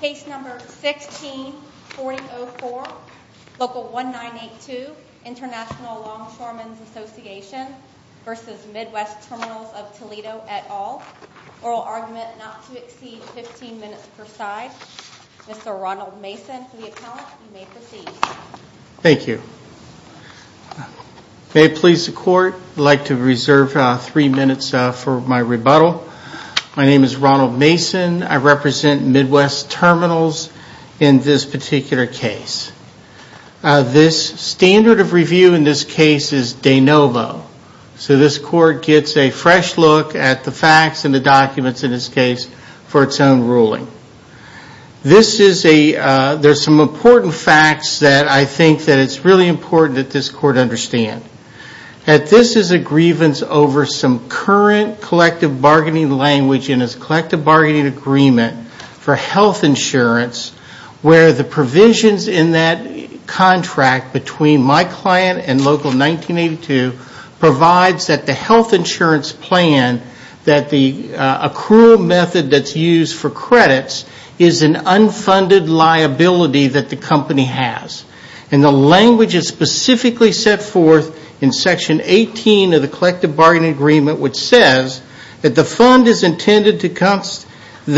Case No. 16-4004, Local 1982, International Longshoremen's Association v. Midwest Terminals of Toledo, et al. Oral argument not to exceed 15 minutes per side. Mr. Ronald Mason for the account, you may proceed. Thank you. May it please the Court, I'd like to reserve three minutes for my rebuttal. My name is Ronald Mason, I represent Midwest Terminals in this particular case. This standard of review in this case is de novo, so this Court gets a fresh look at the facts and the documents in this case for its own ruling. There's some important facts that I think that it's really important that this Court understand. This is a grievance over some current collective bargaining language in its collective bargaining agreement for health insurance, where the provisions in that contract between my client and Local 1982 provides that the health insurance plan, that the accrual method that's used for credits, is an unfunded liability that the company has. And the language is specifically set forth in Section 18 of the collective bargaining agreement, which says that the fund is intended to constitute an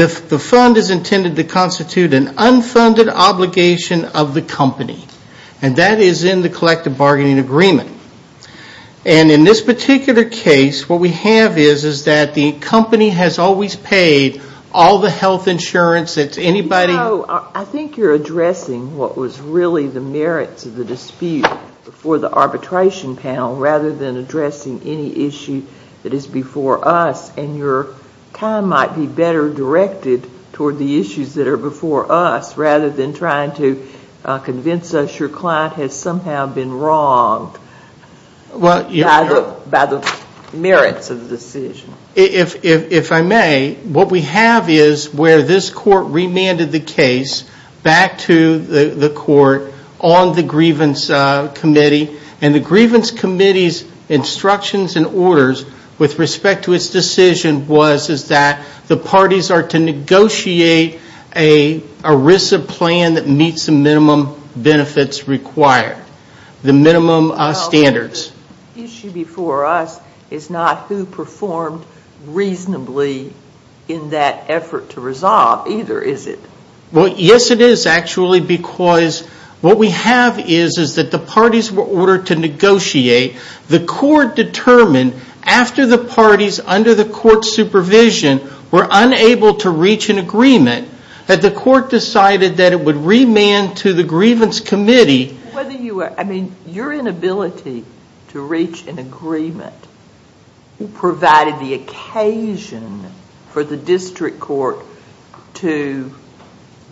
unfunded obligation of the company. And that is in the collective bargaining agreement. And in this particular case, what we have is, is that the company has always paid all the health insurance. I think you're addressing what was really the merits of the dispute for the arbitration panel, rather than addressing any issue that is before us. And your time might be better directed toward the issues that are before us, rather than trying to convince us your client has somehow been wronged by the merits of the decision. If I may, what we have is where this Court remanded the case back to the Court on the grievance committee. And the grievance committee's instructions and orders with respect to its decision was, is that the parties are to negotiate a RISA plan that meets the minimum benefits required, the minimum standards. The issue before us is not who performed reasonably in that effort to resolve, either, is it? Well, yes, it is, actually, because what we have is, is that the parties were ordered to negotiate. The Court determined, after the parties under the Court's supervision were unable to reach an agreement, that the Court decided that it would remand to the grievance committee. I mean, your inability to reach an agreement provided the occasion for the district court to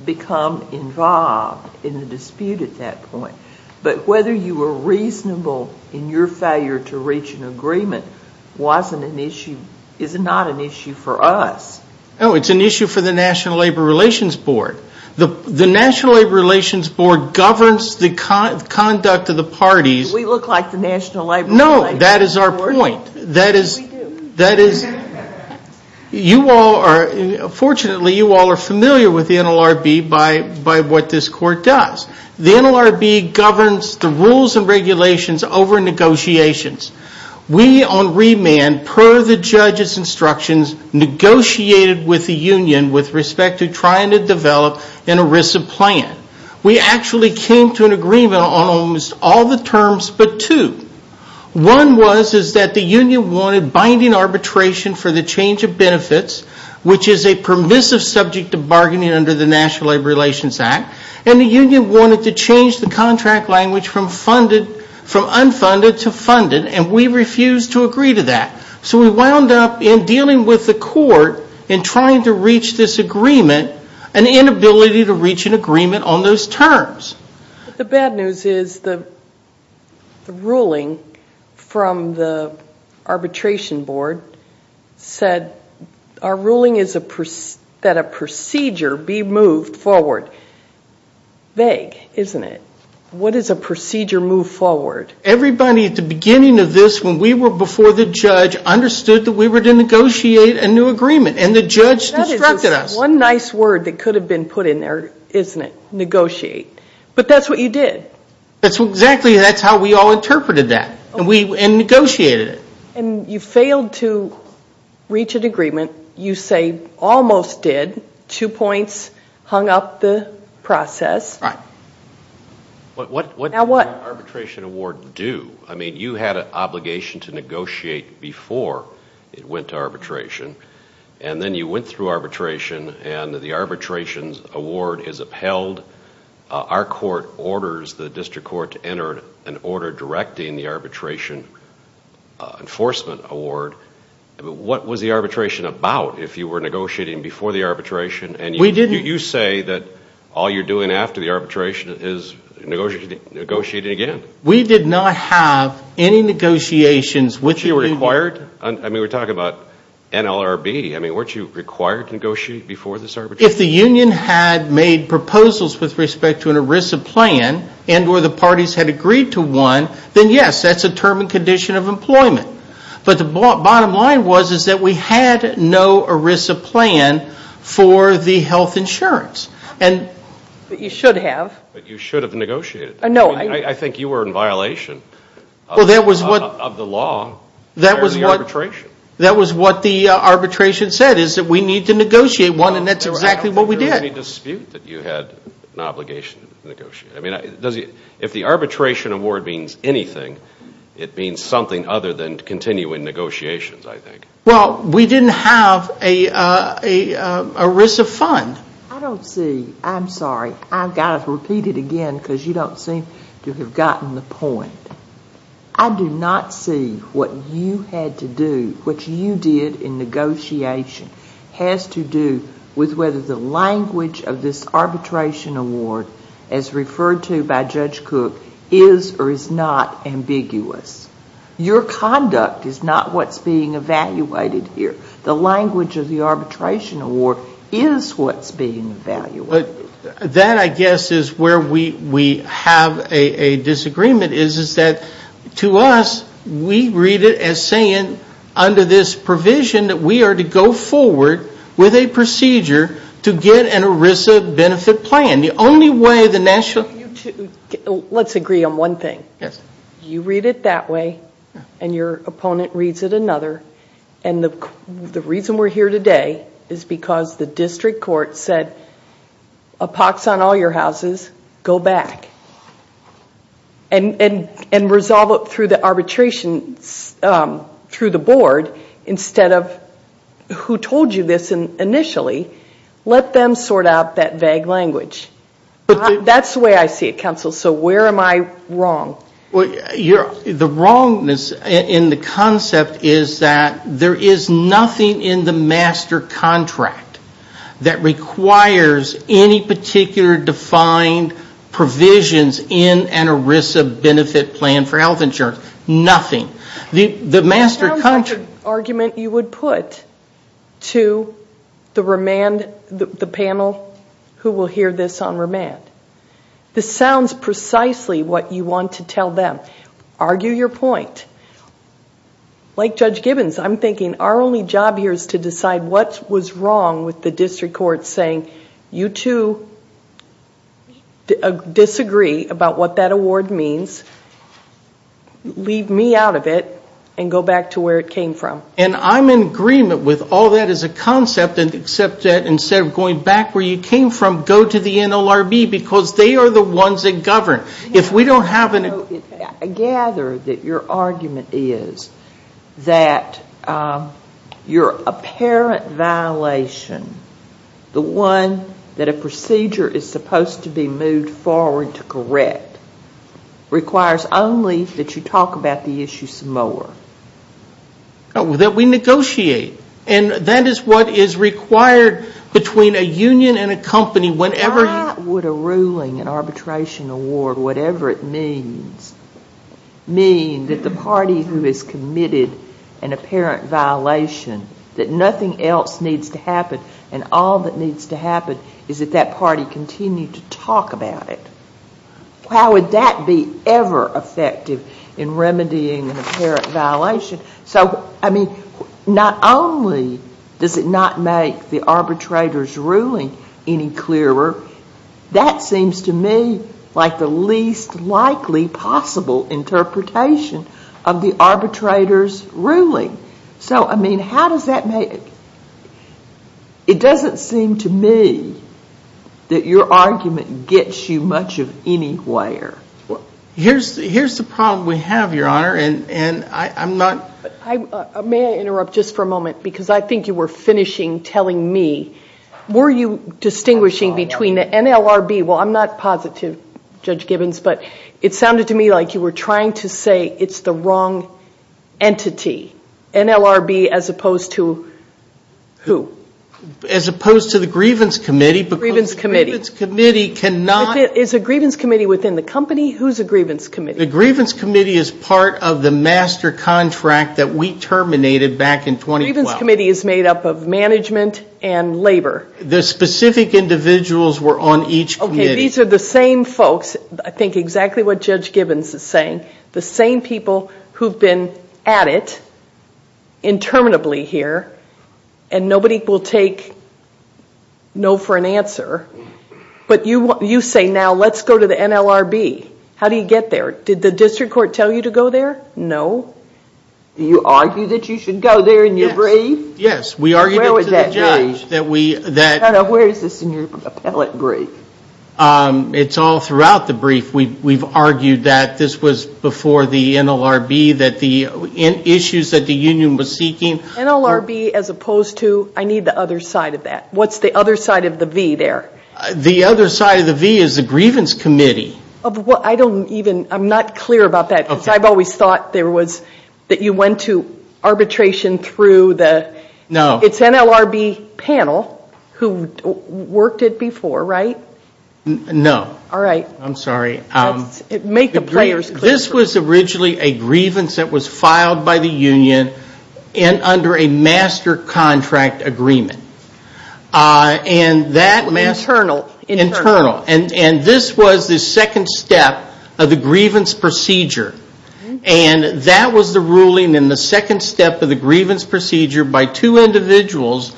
become involved in the dispute at that point. But whether you were reasonable in your failure to reach an agreement wasn't an issue, is not an issue for us. No, it's an issue for the National Labor Relations Board. The National Labor Relations Board governs the conduct of the parties. We look like the National Labor Relations Board. No, that is our point. We do. That is, you all are, fortunately, you all are familiar with the NLRB by what this Court does. The NLRB governs the rules and regulations over negotiations. We, on remand, per the judge's instructions, negotiated with the union with respect to trying to develop an ERISA plan. We actually came to an agreement on almost all the terms but two. One was, is that the union wanted binding arbitration for the change of benefits, which is a permissive subject of bargaining under the National Labor Relations Act, and the union wanted to change the contract language from unfunded to funded, and we refused to agree to that. So we wound up in dealing with the court in trying to reach this agreement, an inability to reach an agreement on those terms. The bad news is the ruling from the arbitration board said our ruling is that a procedure be moved forward. Vague, isn't it? What is a procedure move forward? Everybody at the beginning of this, when we were before the judge, understood that we were to negotiate a new agreement, and the judge instructed us. One nice word that could have been put in there, isn't it? Negotiate. But that's what you did. Exactly. That's how we all interpreted that and negotiated it. And you failed to reach an agreement. You say almost did. Two points hung up the process. Right. What did the arbitration award do? I mean, you had an obligation to negotiate before it went to arbitration, and then you went through arbitration, and the arbitration award is upheld. Our court orders the district court to enter an order directing the arbitration enforcement award. What was the arbitration about if you were negotiating before the arbitration? And you say that all you're doing after the arbitration is negotiating again. I mean, we're talking about NLRB. I mean, weren't you required to negotiate before this arbitration? If the union had made proposals with respect to an ERISA plan and where the parties had agreed to one, then yes, that's a term and condition of employment. But the bottom line was is that we had no ERISA plan for the health insurance. But you should have. But you should have negotiated. No. I think you were in violation of the law. That was what the arbitration said is that we need to negotiate one, and that's exactly what we did. I don't think there was any dispute that you had an obligation to negotiate. I mean, if the arbitration award means anything, it means something other than continuing negotiations, I think. Well, we didn't have an ERISA fund. I don't see. I'm sorry. I've got to repeat it again because you don't seem to have gotten the point. I do not see what you had to do, what you did in negotiation, has to do with whether the language of this arbitration award, as referred to by Judge Cook, is or is not ambiguous. Your conduct is not what's being evaluated here. The language of the arbitration award is what's being evaluated. That, I guess, is where we have a disagreement is that to us, we read it as saying under this provision that we are to go forward with a procedure to get an ERISA benefit plan. The only way the national... Let's agree on one thing. Yes. You read it that way, and your opponent reads it another. The reason we're here today is because the district court said a pox on all your houses. Go back and resolve it through the arbitration through the board instead of who told you this initially. Let them sort out that vague language. That's the way I see it, counsel, so where am I wrong? The wrongness in the concept is that there is nothing in the master contract that requires any particular defined provisions in an ERISA benefit plan for health insurance. Nothing. The master contract. That sounds like an argument you would put to the panel who will hear this on remand. This sounds precisely what you want to tell them. Argue your point. Like Judge Gibbons, I'm thinking our only job here is to decide what was wrong with the district court saying, you two disagree about what that award means. Leave me out of it and go back to where it came from. I'm in agreement with all that as a concept, except that instead of going back where you came from, go to the NLRB because they are the ones that govern. I gather that your argument is that your apparent violation, the one that a procedure is supposed to be moved forward to correct, requires only that you talk about the issue some more. That we negotiate. And that is what is required between a union and a company whenever you Why would a ruling, an arbitration award, whatever it means, mean that the party who has committed an apparent violation, that nothing else needs to happen and all that needs to happen is that that party continue to talk about it? How would that be ever effective in remedying an apparent violation? So, I mean, not only does it not make the arbitrator's ruling any clearer, that seems to me like the least likely possible interpretation of the arbitrator's ruling. So, I mean, how does that make... It doesn't seem to me that your argument gets you much of anywhere. Here's the problem we have, Your Honor, and I'm not... May I interrupt just for a moment? Because I think you were finishing telling me. Were you distinguishing between the NLRB... Well, I'm not positive, Judge Gibbons, but it sounded to me like you were trying to say it's the wrong entity. NLRB as opposed to who? As opposed to the Grievance Committee because the Grievance Committee cannot... Is the Grievance Committee within the company? Who's the Grievance Committee? The Grievance Committee is part of the master contract that we terminated back in 2012. The Grievance Committee is made up of management and labor. The specific individuals were on each committee. Okay, these are the same folks, I think exactly what Judge Gibbons is saying, the same people who've been at it interminably here, and nobody will take no for an answer, but you say now let's go to the NLRB. How do you get there? Did the district court tell you to go there? No. You argue that you should go there in your brief? Yes, we argued it to the judge that we... Where is this in your appellate brief? It's all throughout the brief. We've argued that this was before the NLRB, that the issues that the union was seeking... NLRB as opposed to, I need the other side of that. What's the other side of the V there? The other side of the V is the Grievance Committee. I don't even, I'm not clear about that because I've always thought there was, that you went to arbitration through the... No. It's NLRB panel who worked it before, right? No. All right. I'm sorry. Make the players clear. This was originally a grievance that was filed by the union and under a master contract agreement. Internal. Internal. And this was the second step of the grievance procedure, and that was the ruling in the second step of the grievance procedure by two individuals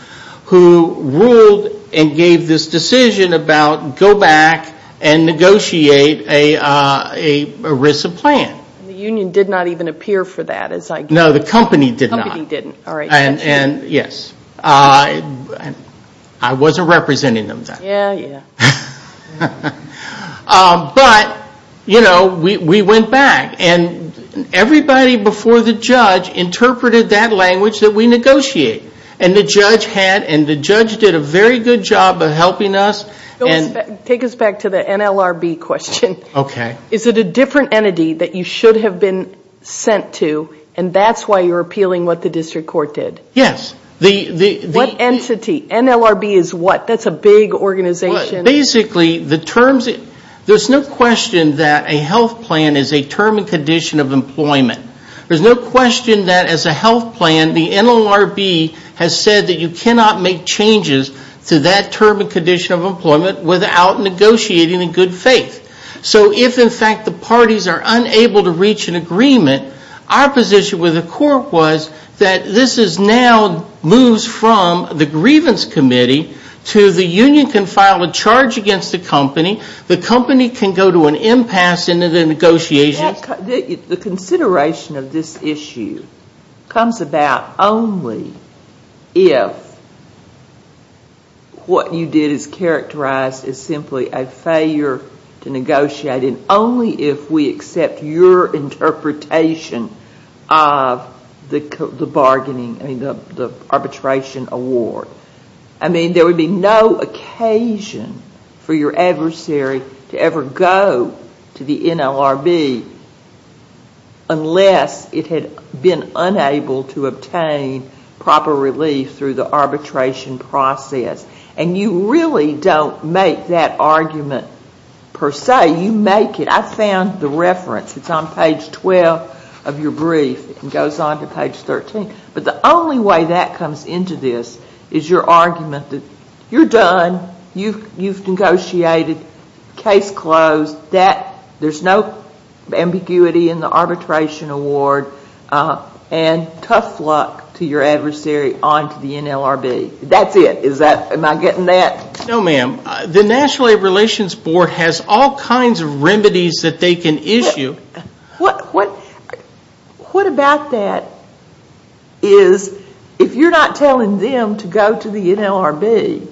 who ruled and gave this decision about go back and negotiate a RISA plan. The union did not even appear for that as I... No, the company did not. The company didn't. All right. Yes. I wasn't representing them then. Yeah, yeah. But we went back and everybody before the judge interpreted that language that we negotiate, and the judge did a very good job of helping us. Take us back to the NLRB question. Okay. Is it a different entity that you should have been sent to, and that's why you're appealing what the district court did? Yes. What entity? NLRB is what? That's a big organization. Basically, there's no question that a health plan is a term and condition of employment. There's no question that as a health plan, the NLRB has said that you cannot make changes to that term and condition of employment without negotiating in good faith. So if, in fact, the parties are unable to reach an agreement, our position with the court was that this now moves from the grievance committee to the union can file a charge against the company, the company can go to an impasse into the negotiations. The consideration of this issue comes about only if what you did is characterized as simply a failure to negotiate, and only if we accept your interpretation of the arbitration award. I mean, there would be no occasion for your adversary to ever go to the NLRB unless it had been unable to obtain proper relief through the arbitration process. And you really don't make that argument per se. You make it. I found the reference. It's on page 12 of your brief. It goes on to page 13. But the only way that comes into this is your argument that you're done, you've negotiated, case closed, there's no ambiguity in the arbitration award, and tough luck to your adversary on to the NLRB. That's it. Am I getting that? No, ma'am. The National Labor Relations Board has all kinds of remedies that they can issue. What about that is if you're not telling them to go to the NLRB,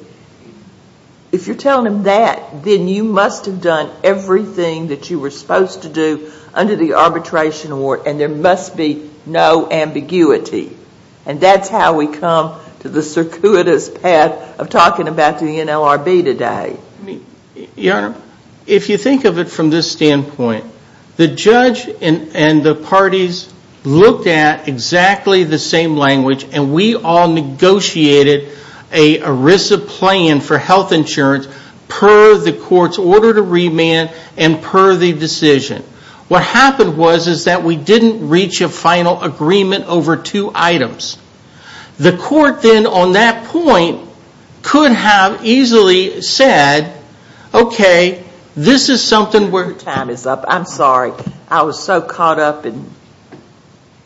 if you're telling them that, then you must have done everything that you were supposed to do under the arbitration award, and there must be no ambiguity. And that's how we come to the circuitous path of talking about the NLRB today. Your Honor, if you think of it from this standpoint, the judge and the parties looked at exactly the same language, and we all negotiated a ERISA plan for health insurance per the court's order to remand and per the decision. What happened was is that we didn't reach a final agreement over two items. The court then on that point could have easily said, okay, this is something where the time is up. I'm sorry. I was so caught up in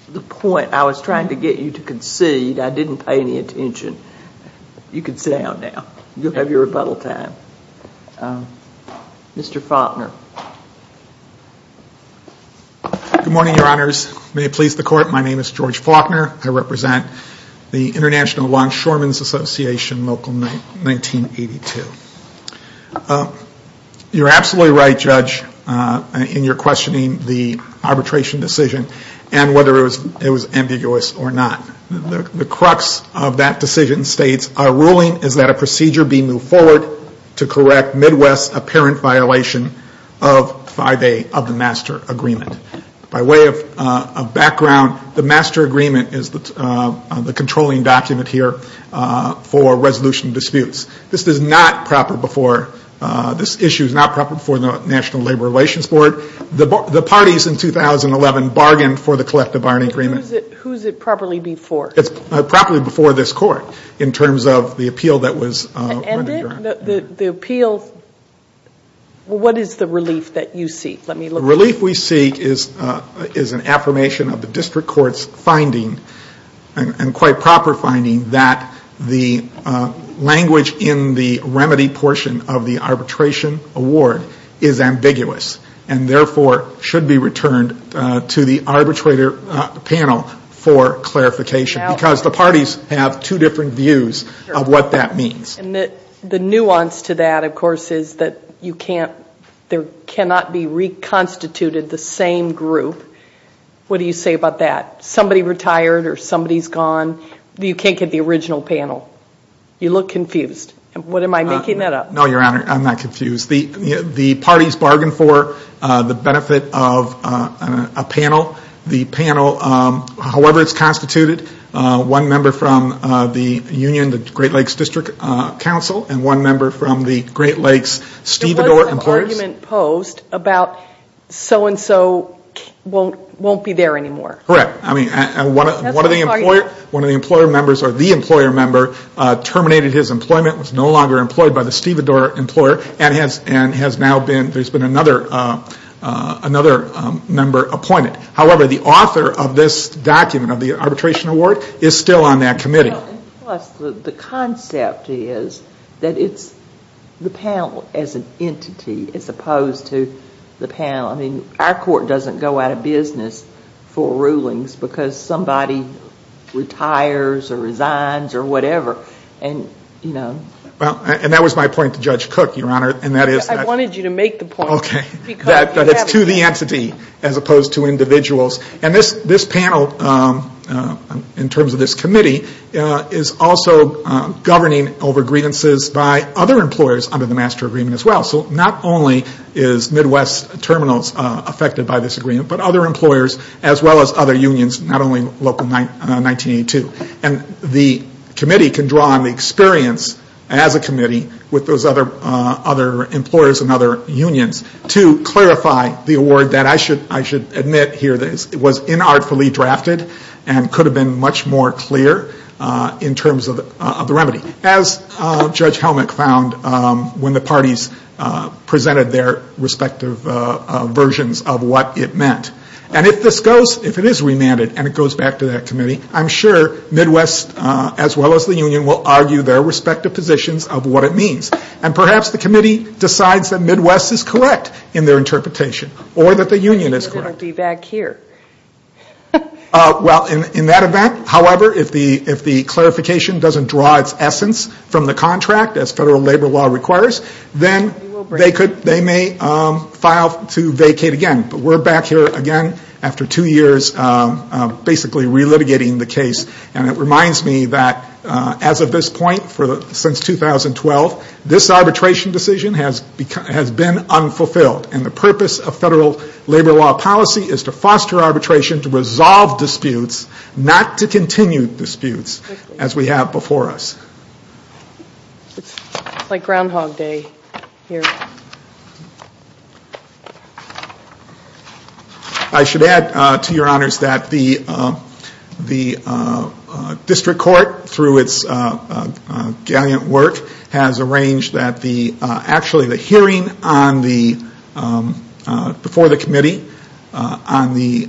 the point. I was trying to get you to concede. I didn't pay any attention. You can sit down now. You'll have your rebuttal time. Mr. Faulkner. Good morning, Your Honors. May it please the Court, my name is George Faulkner. I represent the International Longshoremen's Association, local 1982. You're absolutely right, Judge, in your questioning the arbitration decision and whether it was ambiguous or not. The crux of that decision states, our ruling is that a procedure be moved forward to correct Midwest's apparent violation of 5A of the master agreement. By way of background, the master agreement is the controlling document here for resolution disputes. This issue is not proper before the National Labor Relations Board. The parties in 2011 bargained for the collective bargaining agreement. Who is it properly before? It's properly before this court in terms of the appeal that was rendered. The appeal, what is the relief that you seek? The relief we seek is an affirmation of the district court's finding and quite proper finding that the language in the remedy portion of the arbitration award is ambiguous and therefore should be returned to the arbitrator panel for clarification because the parties have two different views of what that means. The nuance to that, of course, is that there cannot be reconstituted the same group. What do you say about that? Somebody retired or somebody's gone. You can't get the original panel. You look confused. Am I making that up? No, Your Honor, I'm not confused. The parties bargained for the benefit of a panel. However it's constituted, one member from the union, the Great Lakes District Council, and one member from the Great Lakes Stevedore Employers. There was an argument posed about so-and-so won't be there anymore. Correct. One of the employer members or the employer member terminated his employment, was no longer employed by the Stevedore employer, and there's been another member appointed. However, the author of this document, of the arbitration award, is still on that committee. The concept is that it's the panel as an entity as opposed to the panel. I mean, our court doesn't go out of business for rulings because somebody retires or resigns or whatever. And that was my point to Judge Cook, Your Honor. I wanted you to make the point. That it's to the entity as opposed to individuals. And this panel, in terms of this committee, is also governing over grievances by other employers under the master agreement as well. So not only is Midwest Terminals affected by this agreement, but other employers as well as other unions, not only local 1982. And the committee can draw on the experience as a committee with those other employers and other unions to clarify the award that I should admit here was inartfully drafted and could have been much more clear in terms of the remedy. As Judge Helmick found when the parties presented their respective versions of what it meant. And if this goes, if it is remanded and it goes back to that committee, I'm sure Midwest as well as the union will argue their respective positions of what it means. And perhaps the committee decides that Midwest is correct in their interpretation. Or that the union is correct. It will be back here. Well, in that event, however, if the clarification doesn't draw its essence from the contract, as federal labor law requires, then they may file to vacate again. But we're back here again after two years basically relitigating the case. And it reminds me that as of this point, since 2012, this arbitration decision has been unfulfilled. And the purpose of federal labor law policy is to foster arbitration, to resolve disputes, not to continue disputes as we have before us. It's like Groundhog Day here. I should add to your honors that the district court, through its gallant work, has arranged that actually the hearing before the committee on the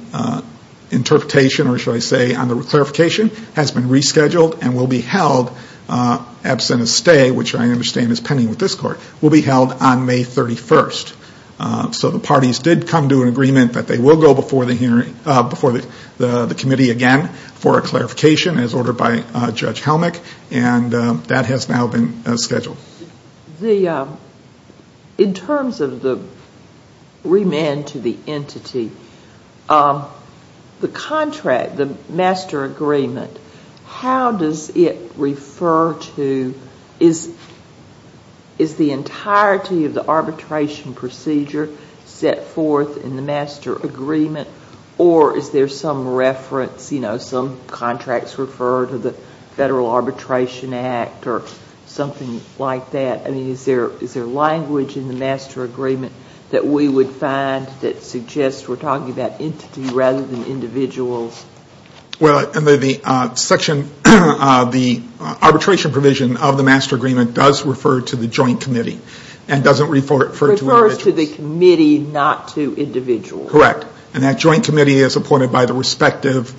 interpretation, or should I say on the clarification, has been rescheduled and will be held absent a stay, which I understand is pending with this court, will be held on May 31st. So the parties did come to an agreement that they will go before the committee again for a clarification, as ordered by Judge Helmick. And that has now been scheduled. In terms of the remand to the entity, the contract, the master agreement, how does it refer to, is the entirety of the arbitration procedure set forth in the master agreement, or is there some reference, you know, some contracts refer to the Federal Arbitration Act or something like that? I mean, is there language in the master agreement that we would find that suggests we're talking about entity rather than individuals? Well, in the section, the arbitration provision of the master agreement does refer to the joint committee and doesn't refer to individuals. It refers to the committee, not to individuals. Correct. And that joint committee is appointed by the respective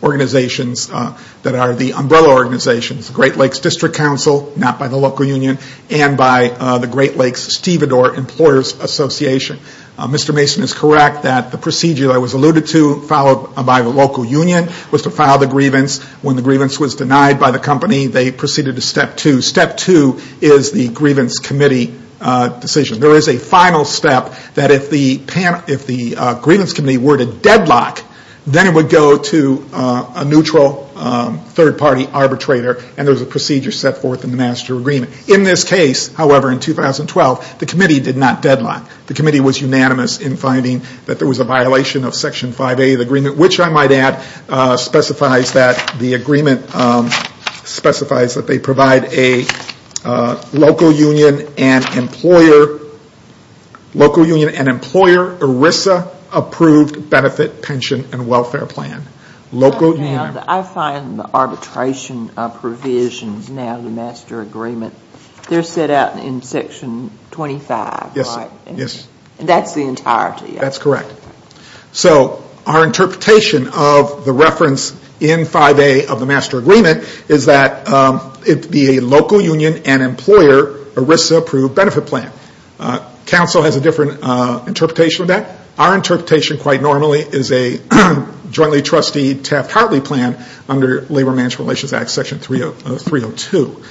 organizations that are the umbrella organizations, the Great Lakes District Council, not by the local union, and by the Great Lakes Stevedore Employers Association. Mr. Mason is correct that the procedure that was alluded to, followed by the local union, was to file the grievance. When the grievance was denied by the company, they proceeded to step two. Step two is the grievance committee decision. There is a final step that if the grievance committee were to deadlock, then it would go to a neutral third-party arbitrator, and there's a procedure set forth in the master agreement. In this case, however, in 2012, the committee did not deadlock. The committee was unanimous in finding that there was a violation of Section 5A of the agreement, which I might add specifies that the agreement specifies that they provide a local union and employer ERISA-approved benefit, pension, and welfare plan. I find the arbitration provisions now in the master agreement, they're set out in Section 25, right? Yes. And that's the entirety of it? That's correct. So our interpretation of the reference in 5A of the master agreement is that it would be a local union and employer ERISA-approved benefit plan. Council has a different interpretation of that. Our interpretation, quite normally, is a jointly trustee Taft-Hartley plan under Labor Management Relations Act Section 302.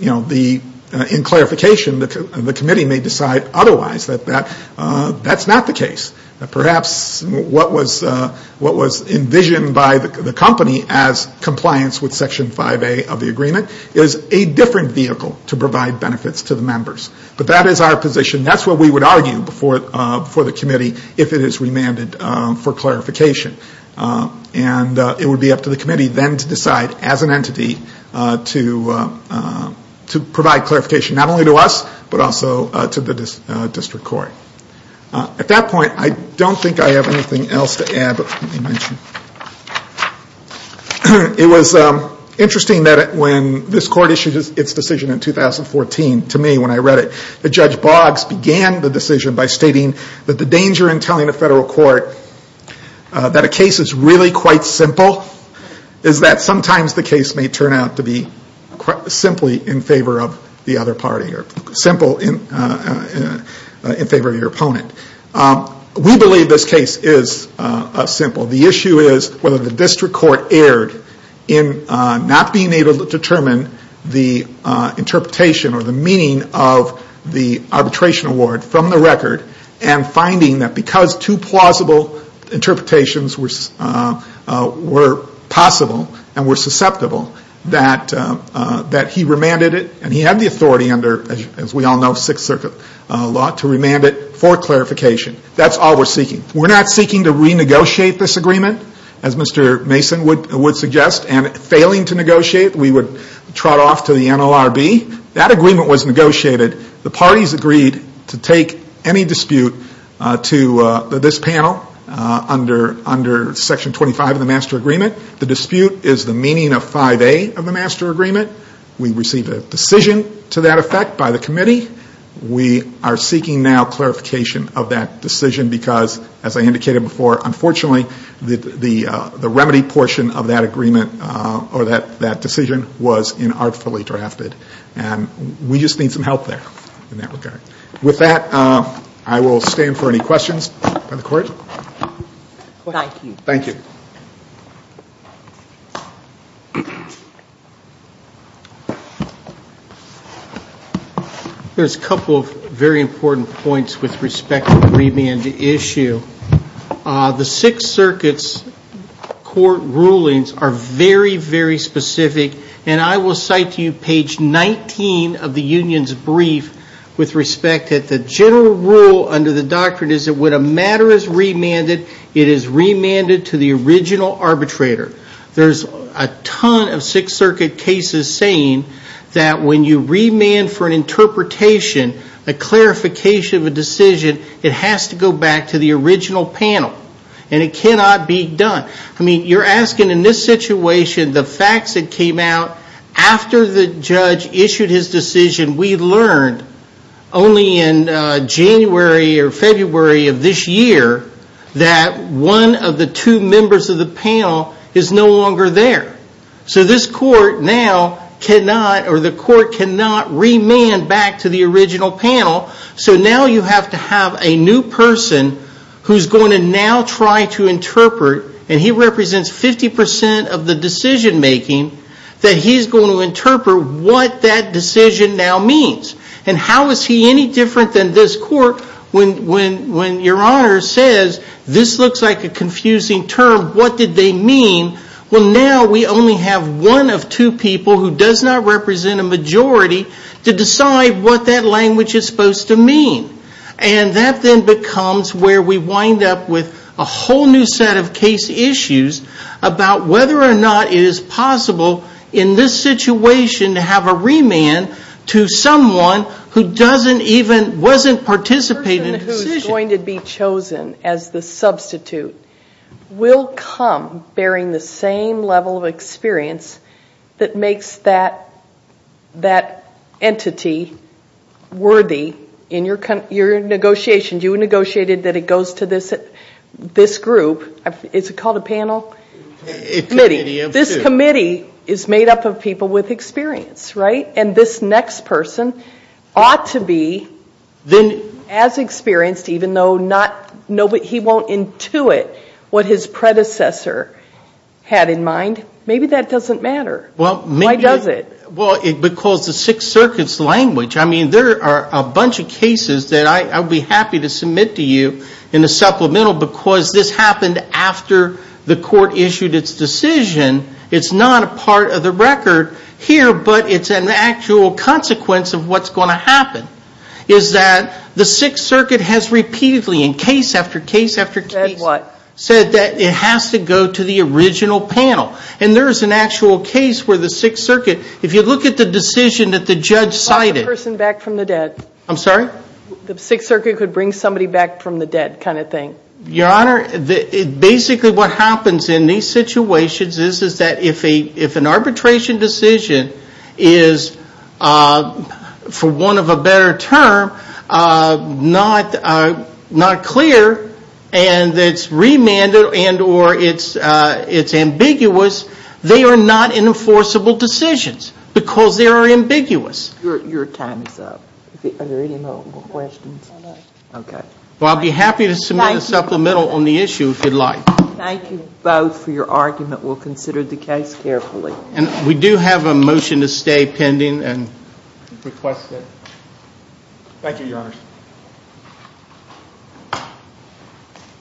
In clarification, the committee may decide otherwise that that's not the case. Perhaps what was envisioned by the company as compliance with Section 5A of the agreement is a different vehicle to provide benefits to the members. But that is our position. That's what we would argue before the committee if it is remanded for clarification. And it would be up to the committee then to decide as an entity to provide clarification not only to us, but also to the district court. At that point, I don't think I have anything else to add, but let me mention. It was interesting that when this court issued its decision in 2014, to me, when I read it, that Judge Boggs began the decision by stating that the danger in telling a federal court that a case is really quite simple is that sometimes the case may turn out to be simply in favor of the other party or simple in favor of your opponent. We believe this case is simple. The issue is whether the district court erred in not being able to determine the interpretation or the meaning of the arbitration award from the record and finding that because two plausible interpretations were possible and were susceptible, that he remanded it and he had the authority under, as we all know, Sixth Circuit law to remand it for clarification. That's all we're seeking. We're not seeking to renegotiate this agreement, as Mr. Mason would suggest, and failing to negotiate, we would trot off to the NLRB. That agreement was negotiated. The parties agreed to take any dispute to this panel under Section 25 of the Master Agreement. The dispute is the meaning of 5A of the Master Agreement. We received a decision to that effect by the committee. We are seeking now clarification of that decision because, as I indicated before, unfortunately the remedy portion of that agreement or that decision was inartfully drafted, and we just need some help there in that regard. With that, I will stand for any questions from the court. Thank you. Thank you. Thank you. There's a couple of very important points with respect to the remand issue. The Sixth Circuit's court rulings are very, very specific, and I will cite to you page 19 of the union's brief with respect that the general rule under the doctrine is that when a matter is remanded, it is remanded to the original arbitrator. There's a ton of Sixth Circuit cases saying that when you remand for an interpretation, a clarification of a decision, it has to go back to the original panel, and it cannot be done. You're asking in this situation the facts that came out after the judge issued his decision. We learned only in January or February of this year that one of the two members of the panel is no longer there. So this court now cannot or the court cannot remand back to the original panel. So now you have to have a new person who's going to now try to interpret, and he represents 50% of the decision making, that he's going to interpret what that decision now means. And how is he any different than this court when your honor says this looks like a confusing term, what did they mean? Well, now we only have one of two people who does not represent a majority to decide what that language is supposed to mean. And that then becomes where we wind up with a whole new set of case issues about whether or not it is possible in this situation to have a remand to someone who doesn't even, wasn't participating in the decision. chosen as the substitute will come bearing the same level of experience that makes that entity worthy in your negotiation. You negotiated that it goes to this group, is it called a panel? This committee is made up of people with experience, right? And this next person ought to be as experienced even though he won't intuit what his predecessor had in mind. Maybe that doesn't matter. Why does it? Well, because the Sixth Circuit's language, I mean, there are a bunch of cases that I would be happy to submit to you in a supplemental because this happened after the court issued its decision. It's not a part of the record here, but it's an actual consequence of what's going to happen. Is that the Sixth Circuit has repeatedly in case after case after case said that it has to go to the original panel. And there is an actual case where the Sixth Circuit, if you look at the decision that the judge cited. The Sixth Circuit could bring somebody back from the dead kind of thing. Your Honor, basically what happens in these situations is that if an arbitration decision is, for want of a better term, not clear and it's remanded and or it's ambiguous, they are not enforceable decisions because they are ambiguous. Well, I'll be happy to submit a supplemental on the issue if you'd like. Thank you both for your argument. We'll consider the case carefully. And we do have a motion to stay pending.